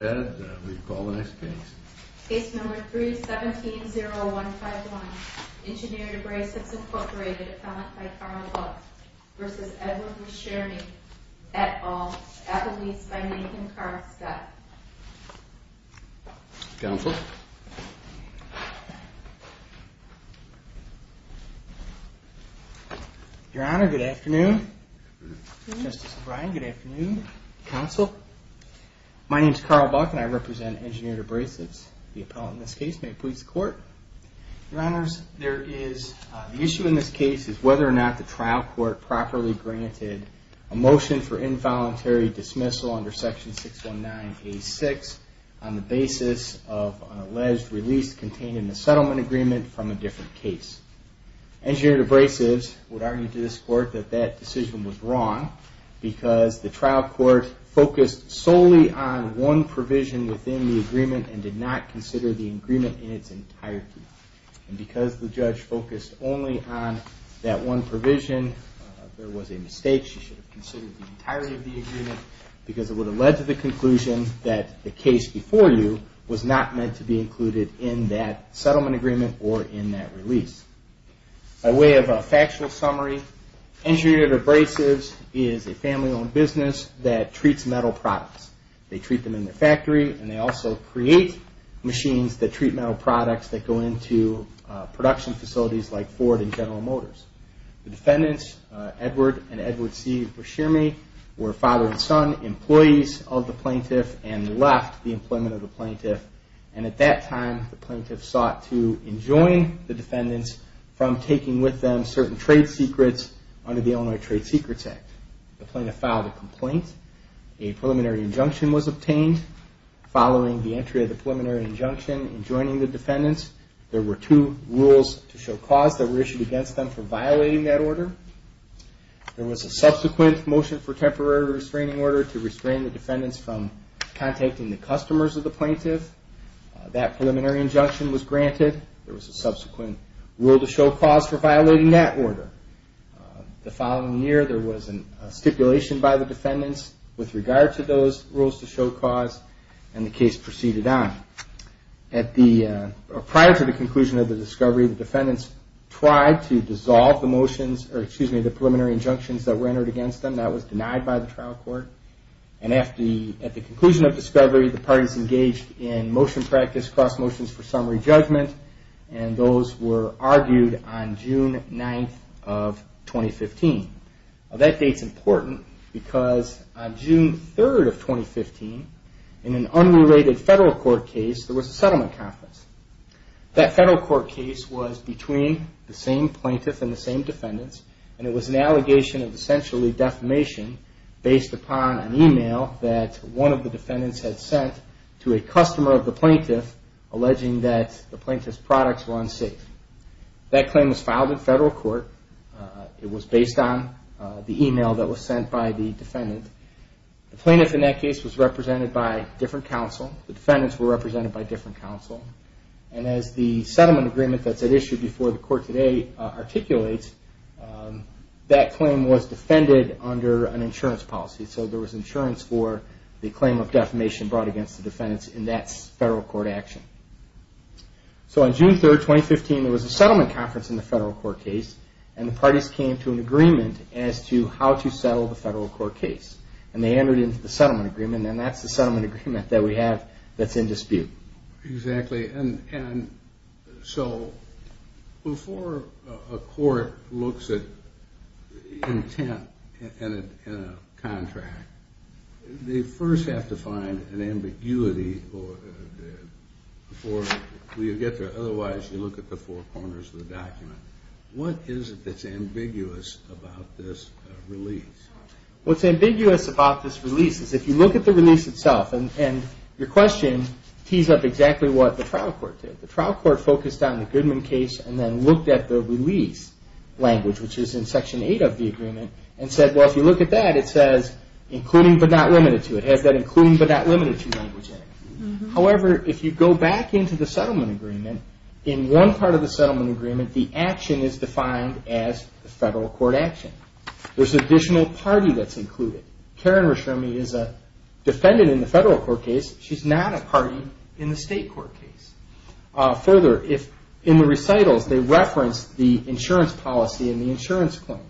et al. at the lease by Nathan Karstad. Your Honor, good afternoon. Justice O'Brien, good afternoon. Counsel. My name is Carl Buck and I represent Engineered Abrasives. The appellant in this case may please the court. Your Honors, the issue in this case is whether or not the trial court properly granted a motion for involuntary dismissal under Section 619A6 on the basis of an alleged release contained in the settlement agreement from a different case. Engineered Abrasives would argue to this court that that decision was wrong because the trial court focused solely on one provision within the agreement and did not consider the agreement in its entirety. And because the judge focused only on that one provision, there was a mistake. She should have considered the entirety of the agreement because it would have led to the conclusion that the case before you was not meant to be included in that settlement agreement or in that release. By way of a factual summary, Engineered Abrasives is a family-owned business that treats metal products. They treat them in their factory and they also create machines that treat metal products that go into production facilities like Ford and General Motors. The defendants, Edward and Edward C. Brashearmy, were father and son, employees of the plaintiff and left the employment of the plaintiff. And at that time, the plaintiff sought to enjoin the defendants from taking with them certain trade secrets under the Illinois Trade Secrets Act. The plaintiff filed a complaint. A preliminary injunction was obtained. Following the entry of the preliminary injunction and joining the defendants, there were two rules to show cause that were issued against them for violating that order. There was a subsequent motion for temporary restraining order to restrain the defendants from contacting the customers of the plaintiff. That preliminary injunction was granted. There was a subsequent rule to show cause for violating that order. The following year, there was a stipulation by the defendants with regard to those rules to show cause and the case proceeded on. Prior to the conclusion of the discovery, the defendants tried to dissolve the motions, or excuse me, the preliminary injunctions that were entered against them. That was denied by the trial court. And at the conclusion of discovery, the parties engaged in motion practice, cross motions for summary judgment, and those were argued on June 9th of 2015. That date's important because on June 3rd of 2015, in an unrelated federal court case, there was a settlement conference. That federal court case was between the same plaintiff and the same defendants, and it was an allegation of essentially defamation based upon an email that one of the defendants had sent to a customer of the plaintiff alleging that the plaintiff's products were unsafe. That claim was filed in federal court. It was based on the email that was sent by the defendant. The plaintiff in that case was represented by different counsel. The defendants were represented by different counsel. And as the settlement agreement that's at issue before the court today articulates, that claim was defended under an insurance policy. So there was insurance for the claim of defamation brought against the defendants in that federal court action. So on June 3rd, 2015, there was a settlement conference in the federal court case, and the parties came to an agreement as to how to settle the federal court case. And they entered into the settlement agreement, and that's the settlement agreement that we have that's in dispute. Exactly. And so before a court looks at intent in a contract, they first have to find an ambiguity before you get there. Otherwise, you look at the four corners of the document. What is it that's ambiguous about this release? What's ambiguous about this release is if you look at the release itself, and your question tees up exactly what the trial court did. The trial court focused on the Goodman case and then looked at the release language, which is in Section 8 of the agreement, and said, well, if you look at that, it says, including but not limited to. It has that including but not limited to language in it. However, if you go back into the settlement agreement, in one part of the settlement agreement, the action is defined as the federal court action. There's an additional party that's included. Karen Reshremi is a defendant in the federal court case. She's not a party in the state court case. Further, in the recitals, they reference the insurance policy and the insurance claim.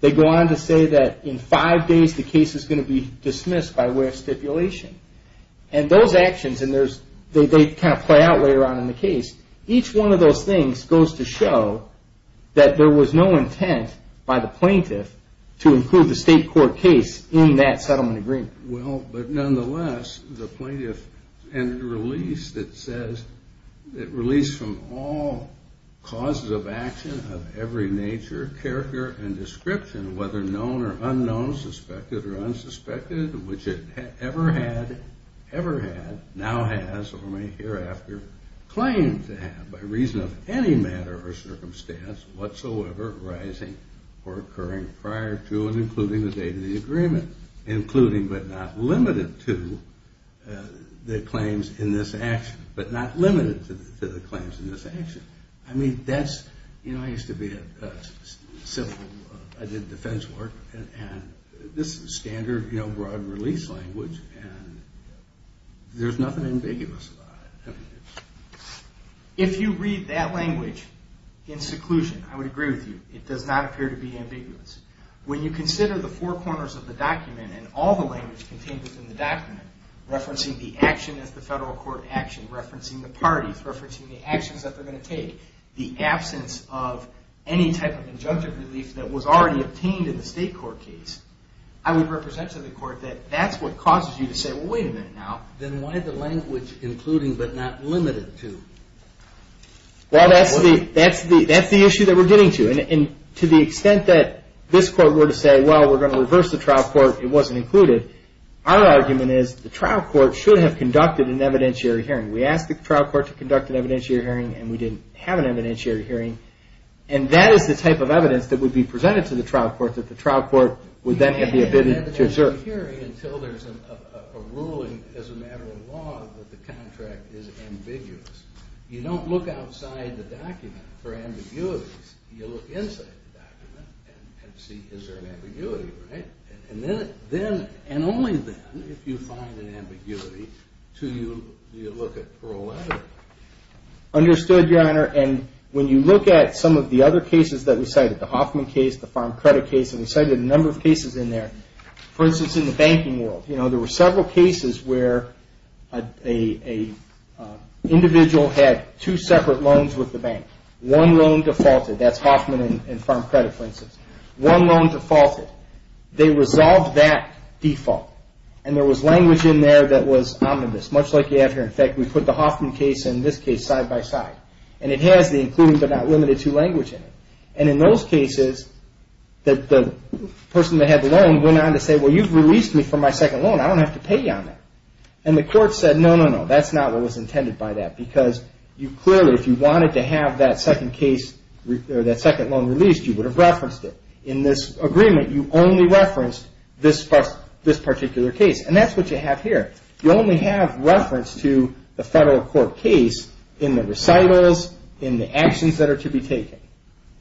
They go on to say that in five days, the case is going to be dismissed by way of stipulation. And those actions, and they kind of play out later on in the case, each one of those things goes to show that there was no intent by the plaintiff to include the state court case in that settlement agreement. Well, but nonetheless, the plaintiff entered a release that says, it released from all causes of action of every nature, character, and description, whether known or unknown, suspected or unsuspected, which it ever had, now has, or may hereafter claim to have, by reason of any matter or circumstance whatsoever arising or occurring prior to and including the date of the agreement, including but not limited to the claims in this action. But not limited to the claims in this action. I mean, that's, you know, I used to be a civil, I did defense work, and this is standard, you know, broad release language, and there's nothing ambiguous about it. If you read that language in seclusion, I would agree with you. It does not appear to be ambiguous. When you consider the four corners of the document and all the language contained within the document, referencing the action as the federal court action, referencing the parties, referencing the actions that they're going to take, the absence of any type of injunctive relief that was already obtained in the state court case, I would represent to the court that that's what causes you to say, well, wait a minute now, then why the language including but not limited to? Well, that's the issue that we're getting to. And to the extent that this court were to say, well, we're going to reverse the trial court, it wasn't included, our argument is the trial court should have conducted an evidentiary hearing. We asked the trial court to conduct an evidentiary hearing, and we didn't have an evidentiary hearing. And that is the type of evidence that would be presented to the trial court, that the trial court would then have the ability to assert. You don't have an evidentiary hearing until there's a ruling as a matter of law that the contract is ambiguous. You don't look outside the document for ambiguities. You look inside the document and see, is there an ambiguity, right? And then, and only then, if you find an ambiguity, do you look at parole letter. Understood, Your Honor. And when you look at some of the other cases that we cited, the Hoffman case, the farm credit case, and we cited a number of cases in there, for instance, in the banking world, you know, there were several cases where an individual had two separate loans with the bank. One loan defaulted. That's Hoffman and farm credit, for instance. One loan defaulted. They resolved that default. And there was language in there that was omnibus, much like you have here. In fact, we put the Hoffman case and this case side by side. And it has the including but not limited to language in it. And in those cases, the person that had the loan went on to say, well, you've released me from my second loan. I don't have to pay you on that. And the court said, no, no, no, that's not what was intended by that. Because you clearly, if you wanted to have that second loan released, you would have referenced it. In this agreement, you only referenced this particular case. And that's what you have here. You only have reference to the federal court case in the recitals, in the actions that are to be taken.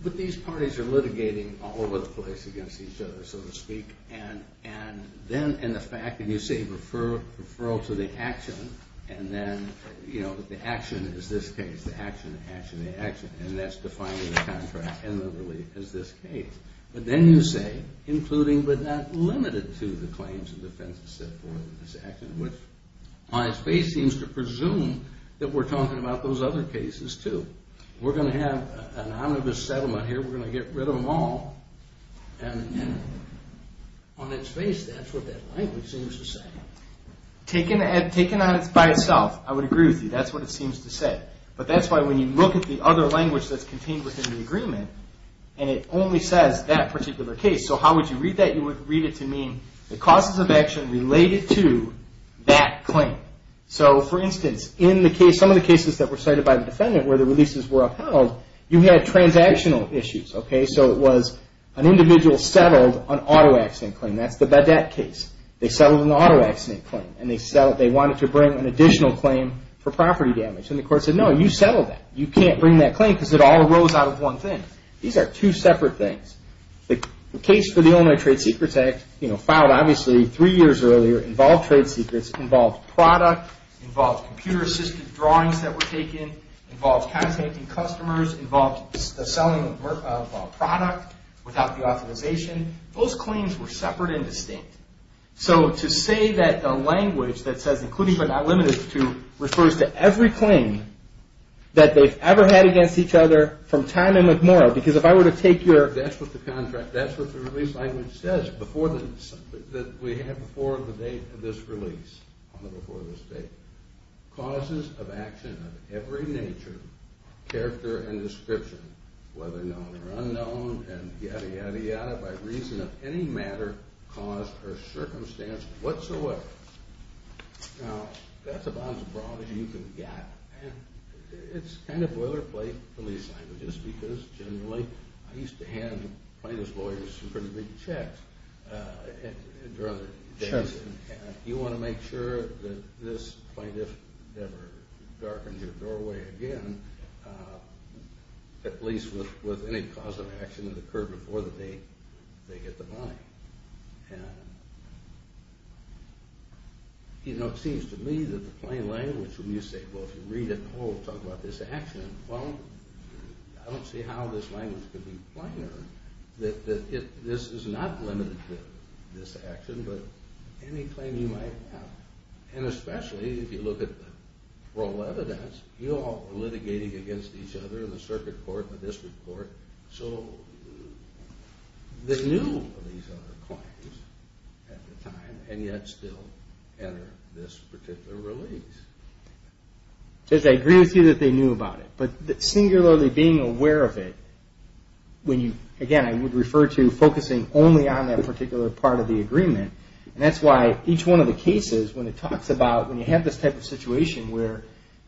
But these parties are litigating all over the place against each other, so to speak. And then in the fact that you say referral to the action, and then, you know, the action is this case. The action, the action, the action. And that's defining the contract and the relief as this case. But then you say, including but not limited to the claims and defenses set forth in this action, which on its face seems to presume that we're talking about those other cases, too. We're going to have an omnibus settlement here. We're going to get rid of them all. And on its face, that's what that language seems to say. Taken by itself, I would agree with you. That's what it seems to say. But that's why when you look at the other language that's contained within the agreement, and it only says that particular case. So how would you read that? You would read it to mean the causes of action related to that claim. So, for instance, in some of the cases that were cited by the defendant where the releases were upheld, you had transactional issues, okay? So it was an individual settled an auto accident claim. That's the BEDAC case. They settled an auto accident claim, and they wanted to bring an additional claim for property damage. And the court said, no, you settled that. You can't bring that claim because it all arose out of one thing. These are two separate things. The case for the Illinois Trade Secrets Act, you know, filed obviously three years earlier, involved trade secrets, involved product, involved computer-assisted drawings that were taken, involved contacting customers, involved the selling of a product without the authorization. Those claims were separate and distinct. So to say that the language that says, including but not limited to, refers to every claim that they've ever had against each other from time immemorial, because if I were to take your… That's what the contract, that's what the release language says, that we have before the date of this release, before this date. Causes of action of every nature, character, and description, whether known or unknown, and yadda, yadda, yadda, by reason of any matter, cause, or circumstance whatsoever. Now, that's about as broad as you can get. And it's kind of boilerplate release language, just because generally I used to hand plaintiff's lawyers some pretty big checks during the days. You want to make sure that this plaintiff never darkens your doorway again. At least with any cause of action that occurred before the date, they get the money. And, you know, it seems to me that the plain language, when you say, well, if you read it, oh, it talks about this action, well, I don't see how this language could be finer. That this is not limited to this action, but any claim you might have. And especially if you look at the parole evidence, you're all litigating against each other in the circuit court, the district court. So they knew of these other claims at the time, and yet still enter this particular release. I agree with you that they knew about it, but singularly being aware of it, when you, again, I would refer to focusing only on that particular part of the agreement, and that's why each one of the cases, when it talks about, when you have this type of situation where,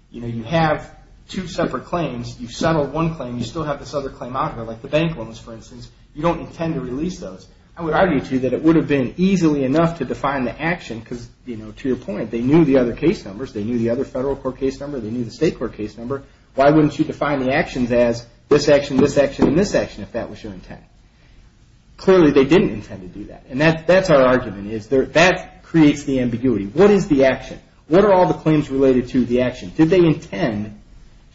you know, you have two separate claims, you've settled one claim, you still have this other claim out here, like the bank loans, for instance, you don't intend to release those. I would argue to you that it would have been easily enough to define the action, because, you know, to your point, they knew the other case numbers, they knew the other federal court case number, they knew the state court case number. Why wouldn't you define the actions as this action, this action, and this action, if that was your intent? Clearly, they didn't intend to do that, and that's our argument, that creates the ambiguity. What is the action? What are all the claims related to the action? Did they intend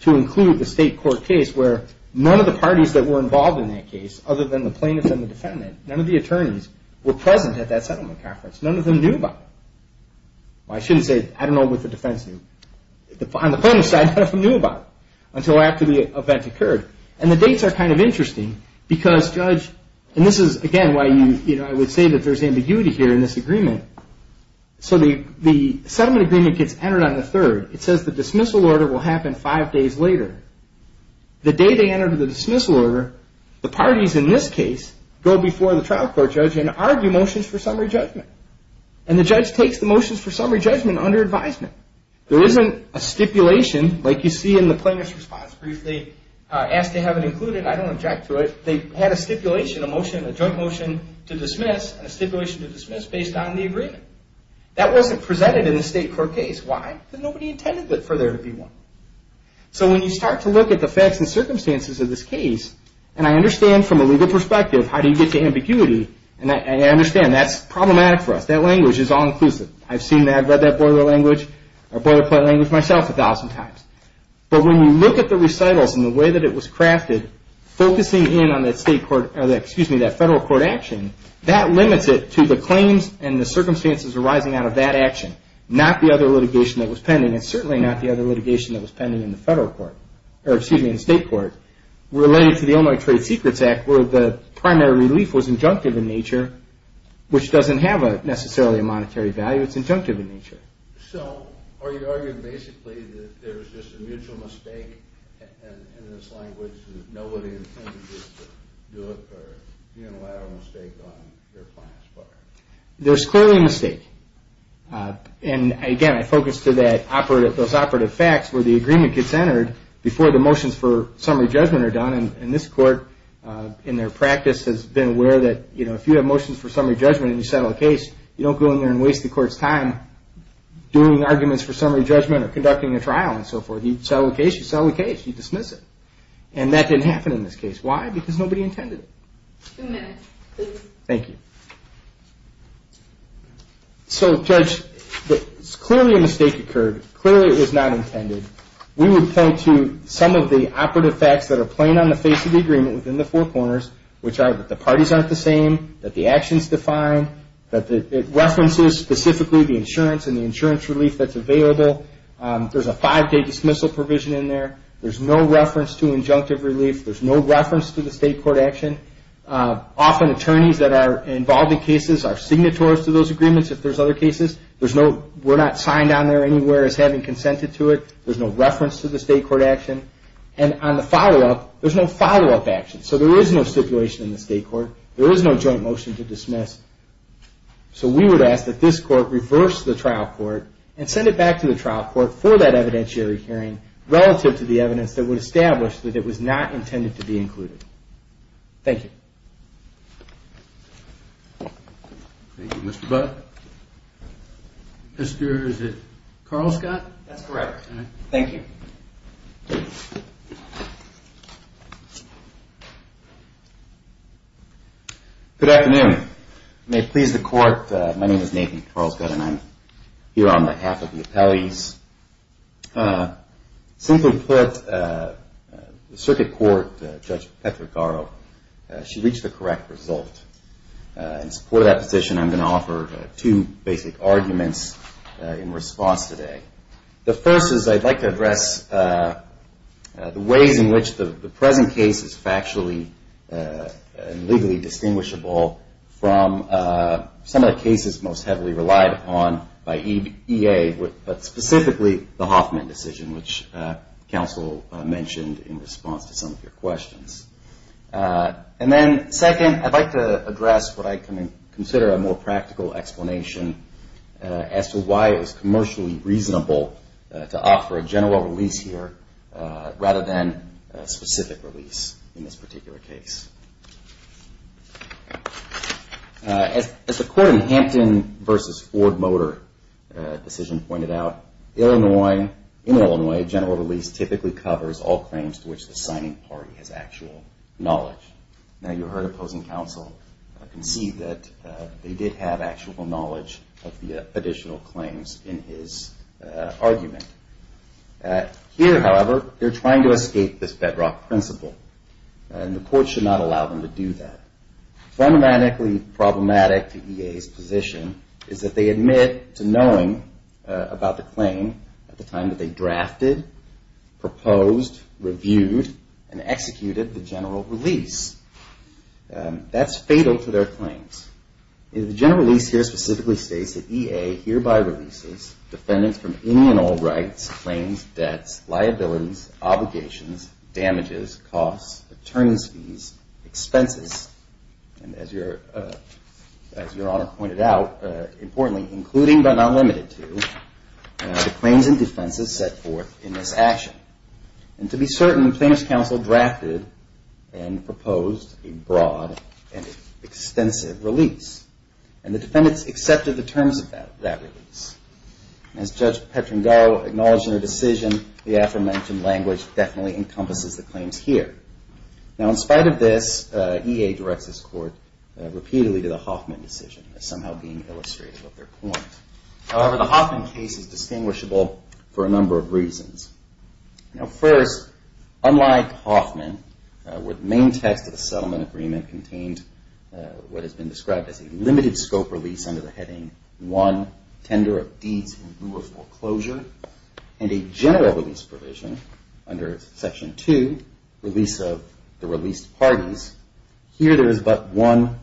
to include the state court case where none of the parties that were involved in that case, other than the plaintiff and the defendant, none of the attorneys were present at that settlement conference. None of them knew about it. I shouldn't say, I don't know what the defense knew. On the plaintiff's side, none of them knew about it, until after the event occurred. And the dates are kind of interesting, because, Judge, and this is, again, why I would say that there's ambiguity here in this agreement. So the settlement agreement gets entered on the 3rd. It says the dismissal order will happen five days later. The day they enter the dismissal order, the parties in this case go before the trial court judge and argue motions for summary judgment. And the judge takes the motions for summary judgment under advisement. There isn't a stipulation, like you see in the plaintiff's response briefly, where they asked to have it included. I don't object to it. They had a stipulation, a motion, a joint motion to dismiss, and a stipulation to dismiss based on the agreement. That wasn't presented in the state court case. Why? Because nobody intended for there to be one. So when you start to look at the facts and circumstances of this case, and I understand from a legal perspective, how do you get to ambiguity, and I understand that's problematic for us. That language is all-inclusive. I've seen that. I've read that boilerplate language myself a thousand times. But when you look at the recitals and the way that it was crafted, focusing in on that federal court action, that limits it to the claims and the circumstances arising out of that action, not the other litigation that was pending, and certainly not the other litigation that was pending in the state court. Related to the Illinois Trade Secrets Act, where the primary relief was injunctive in nature, which doesn't have necessarily a monetary value. It's injunctive in nature. So are you arguing basically that there's just a mutual mistake in this language, and nobody intended to do it, or unilateral mistake on your client's part? There's clearly a mistake. Again, I focus to those operative facts where the agreement gets entered before the motions for summary judgment are done. This court, in their practice, has been aware that if you have motions for summary judgment and you settle a case, you don't go in there and waste the court's time doing arguments for summary judgment or conducting a trial and so forth. You settle a case, you settle a case, you dismiss it. And that didn't happen in this case. Why? Because nobody intended it. Two minutes, please. Thank you. So, Judge, clearly a mistake occurred. Clearly it was not intended. We would point to some of the operative facts that are plain on the face of the agreement within the four corners, which are that the parties aren't the same, that the actions define, that it references specifically the insurance and the insurance relief that's available. There's a five-day dismissal provision in there. There's no reference to injunctive relief. There's no reference to the state court action. Often attorneys that are involved in cases are signatories to those agreements. If there's other cases, we're not signed on there anywhere as having consented to it. There's no reference to the state court action. And on the follow-up, there's no follow-up action. So there is no stipulation in the state court. There is no joint motion to dismiss. So we would ask that this court reverse the trial court and send it back to the trial court for that evidentiary hearing relative to the evidence that would establish that it was not intended to be included. Thank you. Thank you, Mr. Buck. Mister, is it Carl Scott? That's correct. Thank you. Good afternoon. May it please the court, my name is Nathan Carl Scott, and I'm here on behalf of the appellees. Simply put, the circuit court, Judge Petra Garo, she reached the correct result. In support of that position, I'm going to offer two basic arguments in response today. The first is I'd like to address the ways in which the present case is factually and legally distinguishable from some of the cases most heavily relied upon by EA, but specifically the Hoffman decision, which counsel mentioned in response to some of your questions. And then second, I'd like to address what I consider a more practical explanation as to why it was commercially reasonable to offer a general release here, rather than a specific release in this particular case. As the court in Hampton v. Ford Motor decision pointed out, in Illinois, general release typically covers all claims to which the signing party has actual knowledge. Now, you heard opposing counsel concede that they did have actual knowledge of the additional claims in his argument. Here, however, they're trying to escape this bedrock principle, and the court should not allow them to do that. Fundamentally problematic to EA's position is that they admit to knowing about the claim at the time that they drafted, proposed, reviewed, and executed the general release. That's fatal to their claims. The general release here specifically states that EA hereby releases defendants from any and all rights, claims, debts, liabilities, obligations, damages, costs, attorney's fees, expenses, and as your Honor pointed out, importantly, including but not limited to the claims and defenses set forth in this action. And to be certain, plaintiff's counsel drafted and proposed a broad and extensive release. And the defendants accepted the terms of that release. As Judge Petrangau acknowledged in her decision, the aforementioned language definitely encompasses the claims here. Now, in spite of this, EA directs this court repeatedly to the Hoffman decision as somehow being illustrative of their point. However, the Hoffman case is distinguishable for a number of reasons. Now, first, unlike Hoffman, where the main text of the settlement agreement contained what has been described as a limited scope release under the heading one, tender of deeds in lieu of foreclosure, and a general release provision under section two, release of the released parties, here there is but one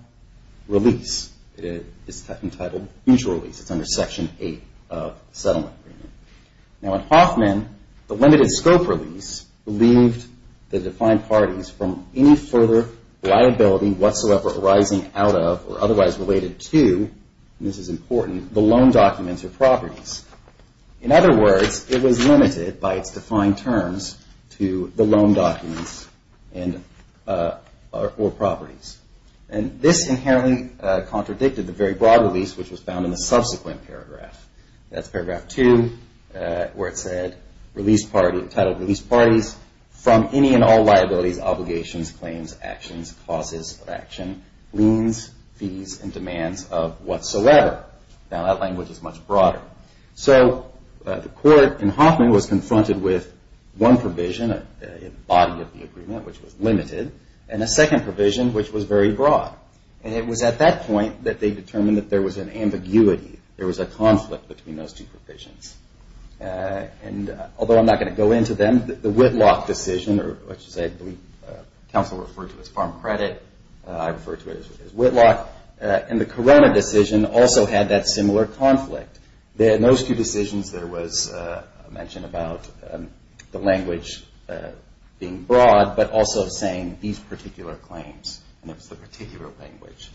release. It's entitled mutual release. It's under section eight of the settlement agreement. Now, in Hoffman, the limited scope release relieved the defined parties from any further liability whatsoever arising out of or otherwise related to, and this is important, the loan documents or properties. In other words, it was limited by its defined terms to the loan documents or properties. And this inherently contradicted the very broad release, which was found in the subsequent paragraph. That's paragraph two, where it said release parties, entitled release parties from any and all liabilities, obligations, claims, actions, causes of action, liens, fees, and demands of whatsoever. Now, that language is much broader. So the court in Hoffman was confronted with one provision, a body of the agreement, which was limited, and a second provision, which was very broad. And it was at that point that they determined that there was an ambiguity. There was a conflict between those two provisions. And although I'm not going to go into them, the Whitlock decision, which I believe counsel referred to as farm credit, I refer to it as Whitlock, and the Corona decision also had that similar conflict. In those two decisions, there was a mention about the language being broad, but also saying these particular claims, and it was the particular language.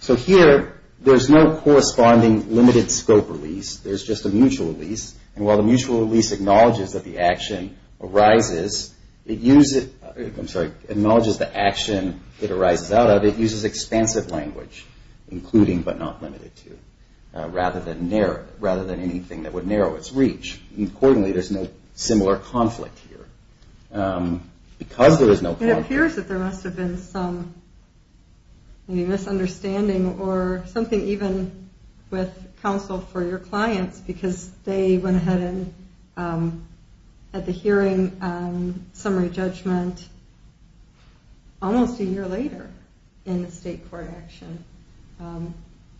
So here, there's no corresponding limited scope release. There's just a mutual release. And while the mutual release acknowledges that the action arises, it uses, I'm sorry, acknowledges the action it arises out of. It uses expansive language, including but not limited to, rather than anything that would narrow its reach. Accordingly, there's no similar conflict here. It appears that there must have been some misunderstanding, or something even with counsel for your clients, because they went ahead at the hearing summary judgment almost a year later in the state court action.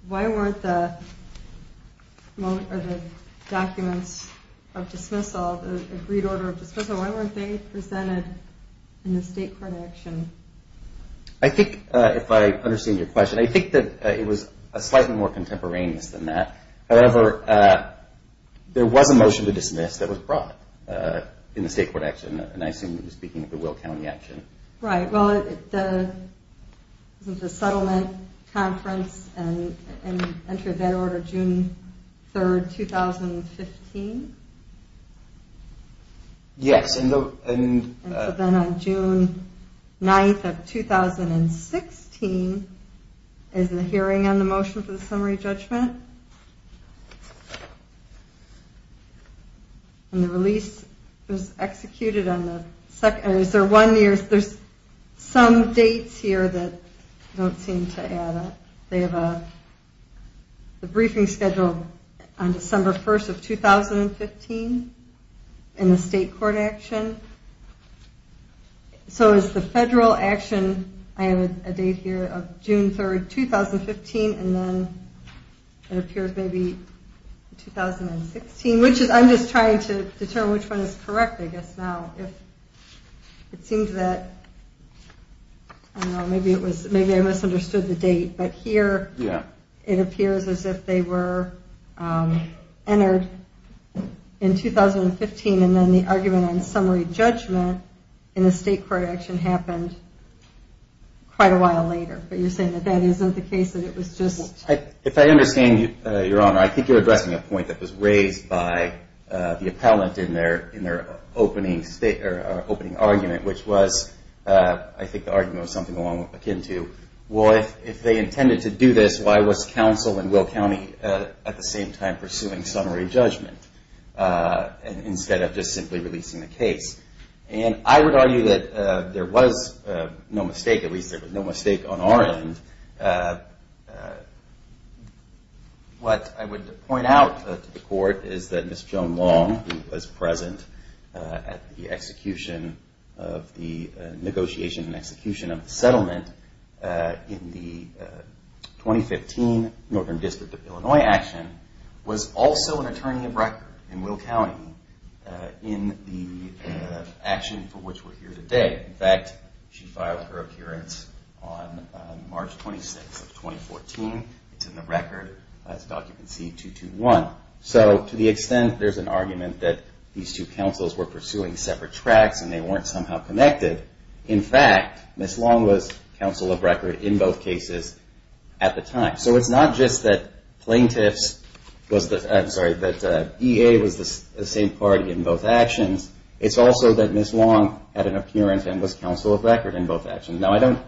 Why weren't the documents of dismissal, the agreed order of dismissal, why weren't they presented in the state court action? I think, if I understand your question, I think that it was slightly more contemporaneous than that. However, there was a motion to dismiss that was brought in the state court action, and I assume you're speaking of the Will County action. Right. Well, the settlement conference and entry of that order June 3, 2015? Yes. And then on June 9, 2016, is the hearing on the motion for the summary judgment? And the release was executed on the second, or is there one year, there's some dates here that don't seem to add up. They have a briefing schedule on December 1, 2015, in the state court action. So is the federal action, I have a date here of June 3, 2015, and then it appears maybe 2016, which is, I'm just trying to determine which one is correct I guess now. It seems that, I don't know, maybe I misunderstood the date. But here it appears as if they were entered in 2015, and then the argument on summary judgment in the state court action happened quite a while later. But you're saying that that isn't the case, that it was just? If I understand your honor, I think you're addressing a point that was raised by the appellant in their opening argument, which was, I think the argument was something along akin to, well, if they intended to do this, why was counsel in Will County at the same time pursuing summary judgment, instead of just simply releasing the case? And I would argue that there was no mistake, at least there was no mistake on our end. What I would point out to the court is that Ms. Joan Long, who was present at the execution of the negotiation and execution of the settlement in the 2015 Northern District of Illinois action, was also an attorney of record in Will County in the action for which we're here today. In fact, she filed her appearance on March 26th of 2014. It's in the record as document C-221. So to the extent there's an argument that these two counsels were pursuing separate tracks and they weren't somehow connected, in fact, Ms. Long was counsel of record in both cases at the time. So it's not just that EA was the same party in both actions, it's also that Ms. Long had an appearance and was counsel of record in both actions. Now, I don't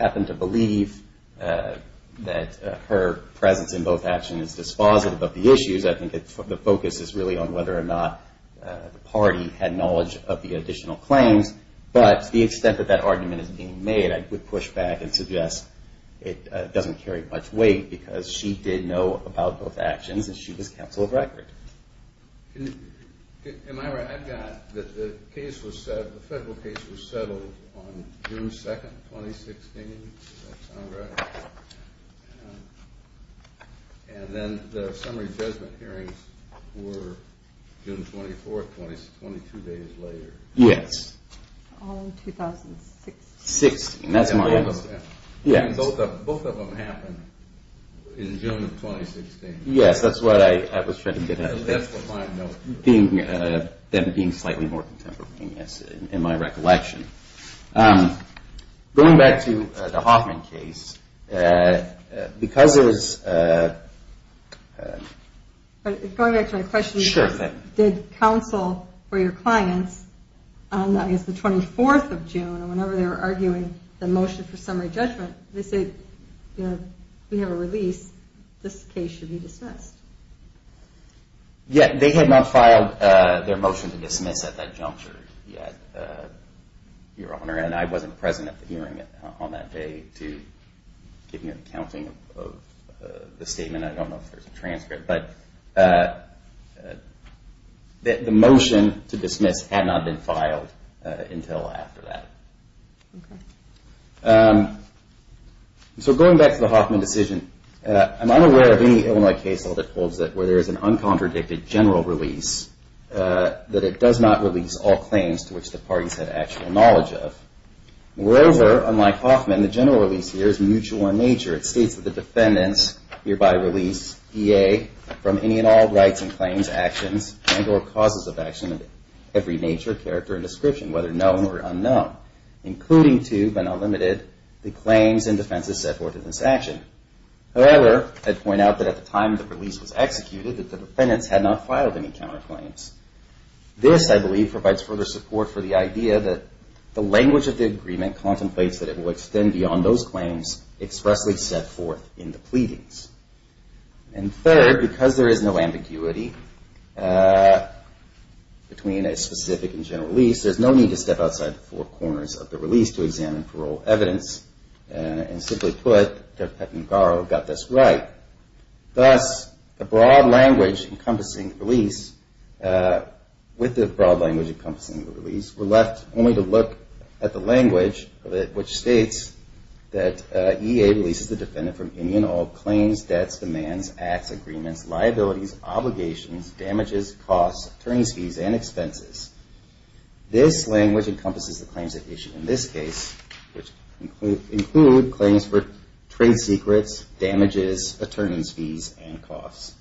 happen to believe that her presence in both actions is dispositive of the issues. I think the focus is really on whether or not the party had knowledge of the additional claims. But to the extent that that argument is being made, I would push back and suggest it doesn't carry much weight because she did know about both actions and she was counsel of record. Am I right? I've got that the federal case was settled on June 2nd, 2016. Does that sound right? And then the summary judgment hearings were June 24th, 22 days later. Yes. All in 2016. Both of them happened in June of 2016. Yes, that's what I was trying to get at. That's what I'm noting. Them being slightly more contemporary, yes, in my recollection. Going back to the Hoffman case, because it was... Going back to my question, did counsel for your clients on, I guess, the 24th of June, whenever they were arguing the motion for summary judgment, they said, you know, we have a release. This case should be dismissed. Yes, they had not filed their motion to dismiss at that juncture yet, Your Honor. And I wasn't present at the hearing on that day to give me an accounting of the statement. I don't know if there's a transcript. But the motion to dismiss had not been filed until after that. Okay. So going back to the Hoffman decision, I'm unaware of any Illinois case that holds it where there is an uncontradicted general release that it does not release all claims to which the parties have actual knowledge of. Moreover, unlike Hoffman, the general release here is mutual in nature. It states that the defendants hereby release EA from any and all rights and claims, actions, and or causes of action of every nature, character, and description, whether known or unknown, including to, but not limited, the claims and defenses set forth in this action. However, I'd point out that at the time the release was executed, that the defendants had not filed any counterclaims. This, I believe, provides further support for the idea that the language of the agreement contemplates that it will extend beyond those claims expressly set forth in the pleadings. And third, because there is no ambiguity between a specific and general release, there's no need to step outside the four corners of the release to examine parole evidence. And simply put, Jeff Peckman Garrow got this right. Thus, the broad language encompassing the release, with the broad language encompassing the release, we're left only to look at the language which states that EA releases the defendant from any and all claims, debts, demands, acts, agreements, liabilities, obligations, damages, costs, attorney's fees, and expenses. This language encompasses the claims at issue in this case, which include claims for trade secrets, damages, attorney's fees, and costs.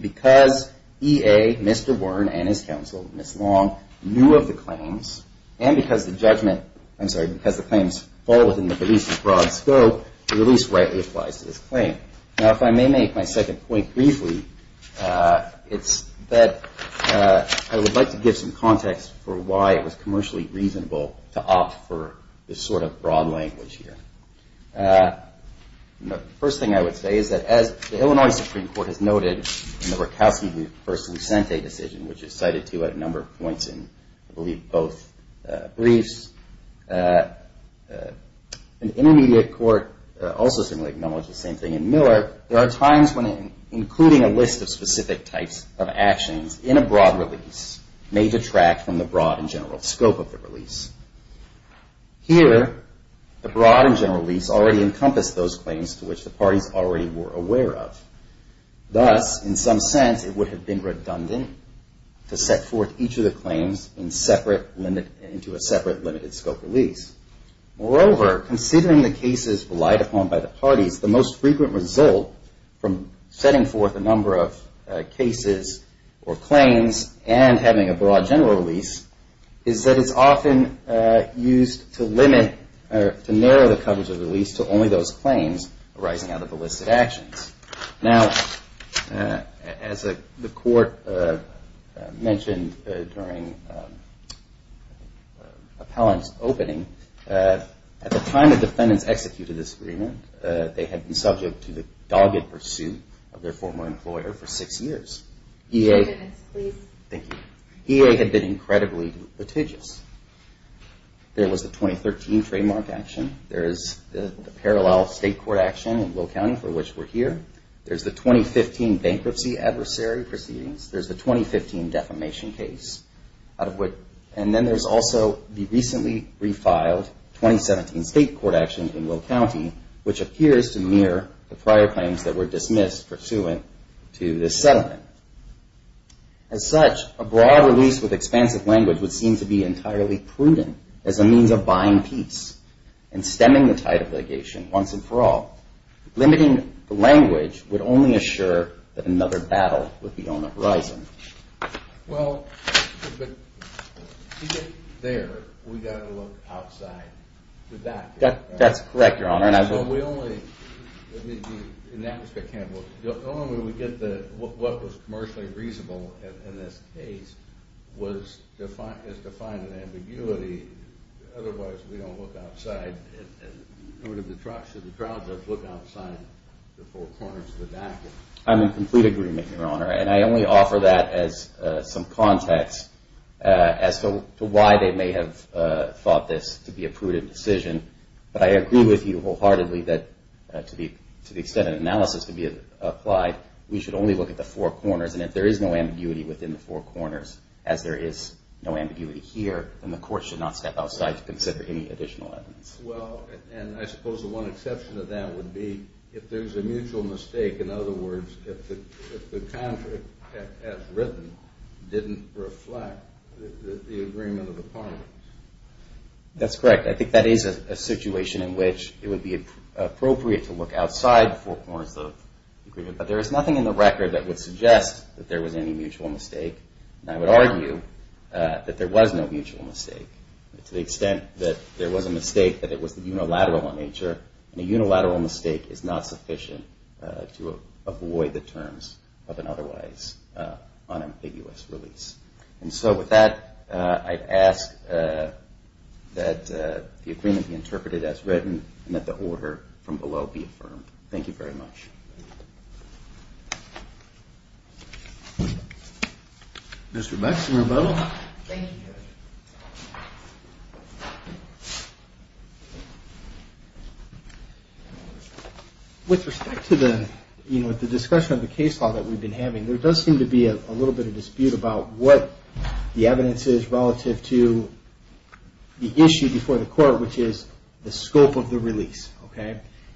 Because EA, Mr. Warren, and his counsel, Ms. Long, knew of the claims, and because the judgment, I'm sorry, because the claims fall within the police's broad scope, the release rightly applies to this claim. Now, if I may make my second point briefly, it's that I would like to give some context for why it was commercially reasonable to opt for this sort of broad language here. The first thing I would say is that, as the Illinois Supreme Court has noted in the Rakowski v. Lucente decision, which is cited to at a number of points in, I believe, both briefs, and the intermediate court also seemingly acknowledged the same thing in Miller, there are times when including a list of specific types of actions in a broad release may detract from the broad and general scope of the release. Here, the broad and general release already encompassed those claims to which the parties already were aware of. Thus, in some sense, it would have been redundant to set forth each of the claims into a separate limited scope release. Moreover, considering the cases relied upon by the parties, the most frequent result from setting forth a number of cases or claims and having a broad general release is that it's often used to narrow the coverage of the release to only those claims arising out of the list of actions. Now, as the court mentioned during appellant's opening, at the time the defendants executed this agreement, they had been subject to the dogged pursuit of their former employer for six years. EA had been incredibly litigious. There was the 2013 trademark action. There is the parallel state court action in Will County for which we're here. There's the 2015 bankruptcy adversary proceedings. There's the 2015 defamation case. And then there's also the recently refiled 2017 state court action in Will County, which appears to mirror the prior claims that were dismissed pursuant to this settlement. As such, a broad release with expansive language would seem to be entirely prudent as a means of buying peace and stemming the tide of litigation once and for all. Limiting the language would only assure that another battle would be on the horizon. Well, to get there, we've got to look outside. That's correct, Your Honor. So we only, in that respect, can't look. The only way we get what was commercially reasonable in this case is to find an ambiguity. Otherwise, we don't look outside. Should the trial judge look outside the four corners of the backwoods? I'm in complete agreement, Your Honor. And I only offer that as some context as to why they may have thought this to be a prudent decision. But I agree with you wholeheartedly that to the extent an analysis can be applied, we should only look at the four corners. And if there is no ambiguity within the four corners, as there is no ambiguity here, then the court should not step outside to consider any additional evidence. Well, and I suppose the one exception to that would be if there's a mutual mistake. In other words, if the contract, as written, didn't reflect the agreement of the parliaments. That's correct. I think that is a situation in which it would be appropriate to look outside the four corners of the agreement. But there is nothing in the record that would suggest that there was any mutual mistake. And I would argue that there was no mutual mistake. To the extent that there was a mistake, that it was unilateral in nature. And a unilateral mistake is not sufficient to avoid the terms of an otherwise unambiguous release. And so with that, I ask that the agreement be interpreted as written and that the order from below be affirmed. Thank you very much. Thank you. Mr. Baxton, rebuttal. Thank you, Judge. With respect to the discussion of the case law that we've been having, there does seem to be a little bit of dispute about what the evidence is relative to the issue before the court, which is the scope of the release.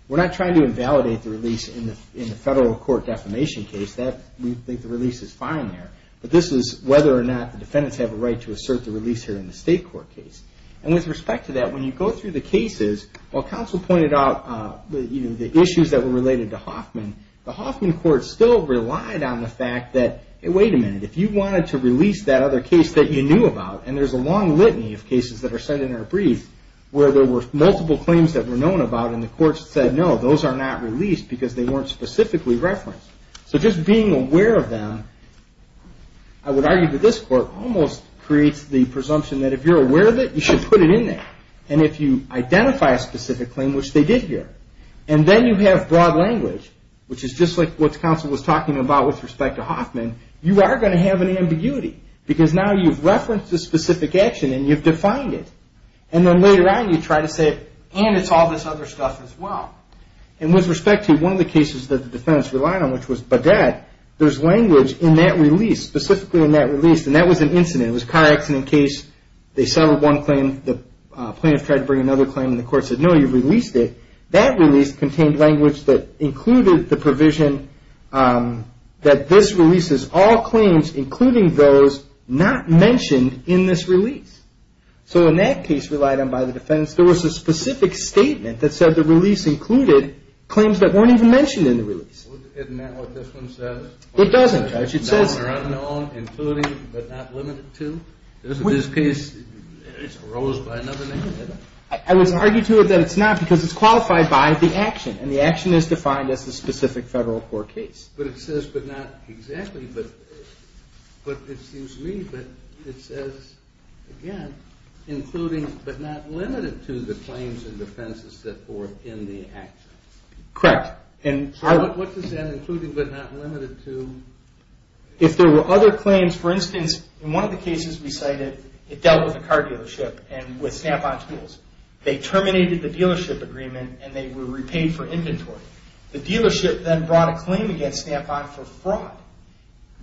We're not trying to invalidate the release in the federal court defamation case. We think the release is fine there. But this is whether or not the defendants have a right to assert the release here in the state court case. And with respect to that, when you go through the cases, while counsel pointed out the issues that were related to Hoffman, the Hoffman court still relied on the fact that, wait a minute, if you wanted to release that other case that you knew about, and there's a long litany of cases that are sent in our brief where there were multiple claims that were known about and the court said, no, those are not released because they weren't specifically referenced. So just being aware of them, I would argue that this court almost creates the presumption that if you're aware of it, you should put it in there. And if you identify a specific claim, which they did here, and then you have broad language, which is just like what counsel was talking about with respect to Hoffman, you are going to have an ambiguity. Because now you've referenced a specific action and you've defined it. And then later on you try to say, and it's all this other stuff as well. And with respect to one of the cases that the defendants relied on, which was Baudette, there's language in that release, specifically in that release, and that was an incident. It was a car accident case. They settled one claim. The plaintiff tried to bring another claim and the court said, no, you've released it. That release contained language that included the provision that this release is all claims, including those not mentioned in this release. So in that case relied on by the defendants, there was a specific statement that said the release included claims that weren't even mentioned in the release. Isn't that what this one says? It doesn't, Judge. It says. They're unknown, including, but not limited to. In this case, it's arose by another name. I would argue to it that it's not because it's qualified by the action, and the action is defined as the specific federal court case. But it says, but not exactly, but it seems to me that it says, again, including, but not limited to the claims and defenses that were in the action. Correct. So what does that include, but not limited to? If there were other claims, for instance, in one of the cases we cited, it dealt with a car dealership and with Snap-on tools. They terminated the dealership agreement, and they were repaid for inventory. The dealership then brought a claim against Snap-on for fraud.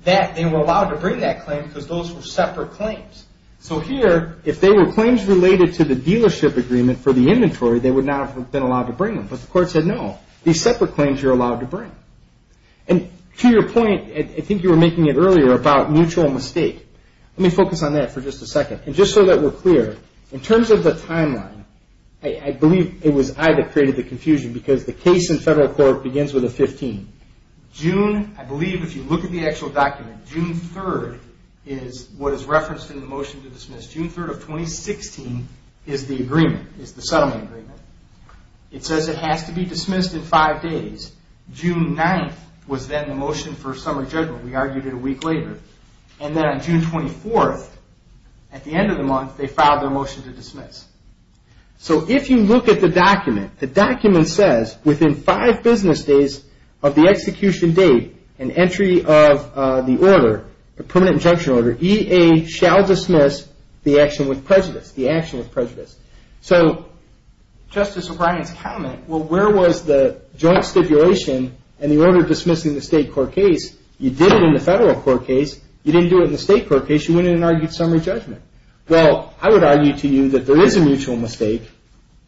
They were allowed to bring that claim because those were separate claims. So here, if they were claims related to the dealership agreement for the inventory, they would not have been allowed to bring them. But the court said, no, these separate claims you're allowed to bring. And to your point, I think you were making it earlier about mutual mistake. Let me focus on that for just a second. And just so that we're clear, in terms of the timeline, I believe it was I that created the confusion because the case in federal court begins with a 15. June, I believe if you look at the actual document, June 3rd is what is referenced in the motion to dismiss. June 3rd of 2016 is the agreement, is the settlement agreement. It says it has to be dismissed in five days. June 9th was then the motion for summer judgment. We argued it a week later. And then on June 24th, at the end of the month, they filed their motion to dismiss. So if you look at the document, the document says within five business days of the execution date and entry of the order, the permanent injunction order, EA shall dismiss the action with prejudice, the action with prejudice. So Justice O'Brien's comment, well, where was the joint stipulation and the order dismissing the state court case? You did it in the federal court case. You didn't do it in the state court case. You went in and argued summer judgment. Well, I would argue to you that there is a mutual mistake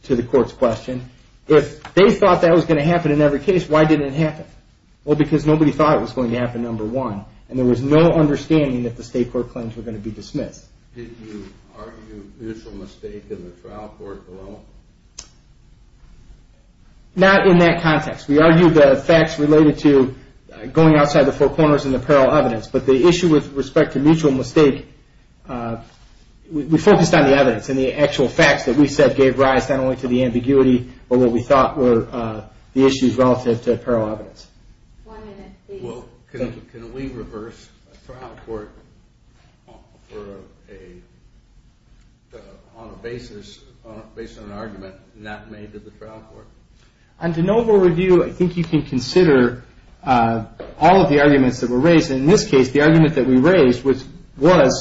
to the court's question. If they thought that was going to happen in every case, why didn't it happen? Well, because nobody thought it was going to happen, number one, and there was no understanding that the state court claims were going to be dismissed. Did you argue mutual mistake in the trial court alone? Not in that context. We argued the facts related to going outside the four corners in the apparel evidence, but the issue with respect to mutual mistake, we focused on the evidence and the actual facts that we said gave rise not only to the ambiguity but what we thought were the issues relative to apparel evidence. One minute, please. Well, can we reverse a trial court on a basis of an argument not made to the trial court? On de novo review, I think you can consider all of the arguments that were raised, and in this case, the argument that we raised was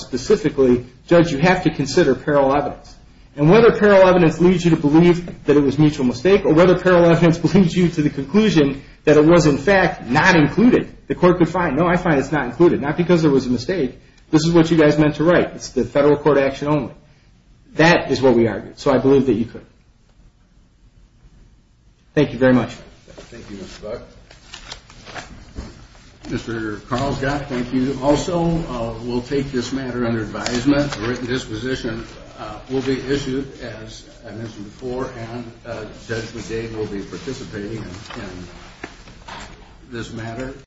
specifically, Judge, you have to consider apparel evidence, and whether apparel evidence leads you to believe that it was mutual mistake or whether apparel evidence leads you to the conclusion that it was, in fact, not included, the court could find, no, I find it's not included, not because there was a mistake. This is what you guys meant to write. It's the federal court action only. That is what we argued, so I believe that you could. Thank you very much. Thank you, Mr. Buck. Mr. Carlsgott, thank you also. We'll take this matter under advisement. A written disposition will be issued, as I mentioned before, and Judge McGade will be participating in this matter.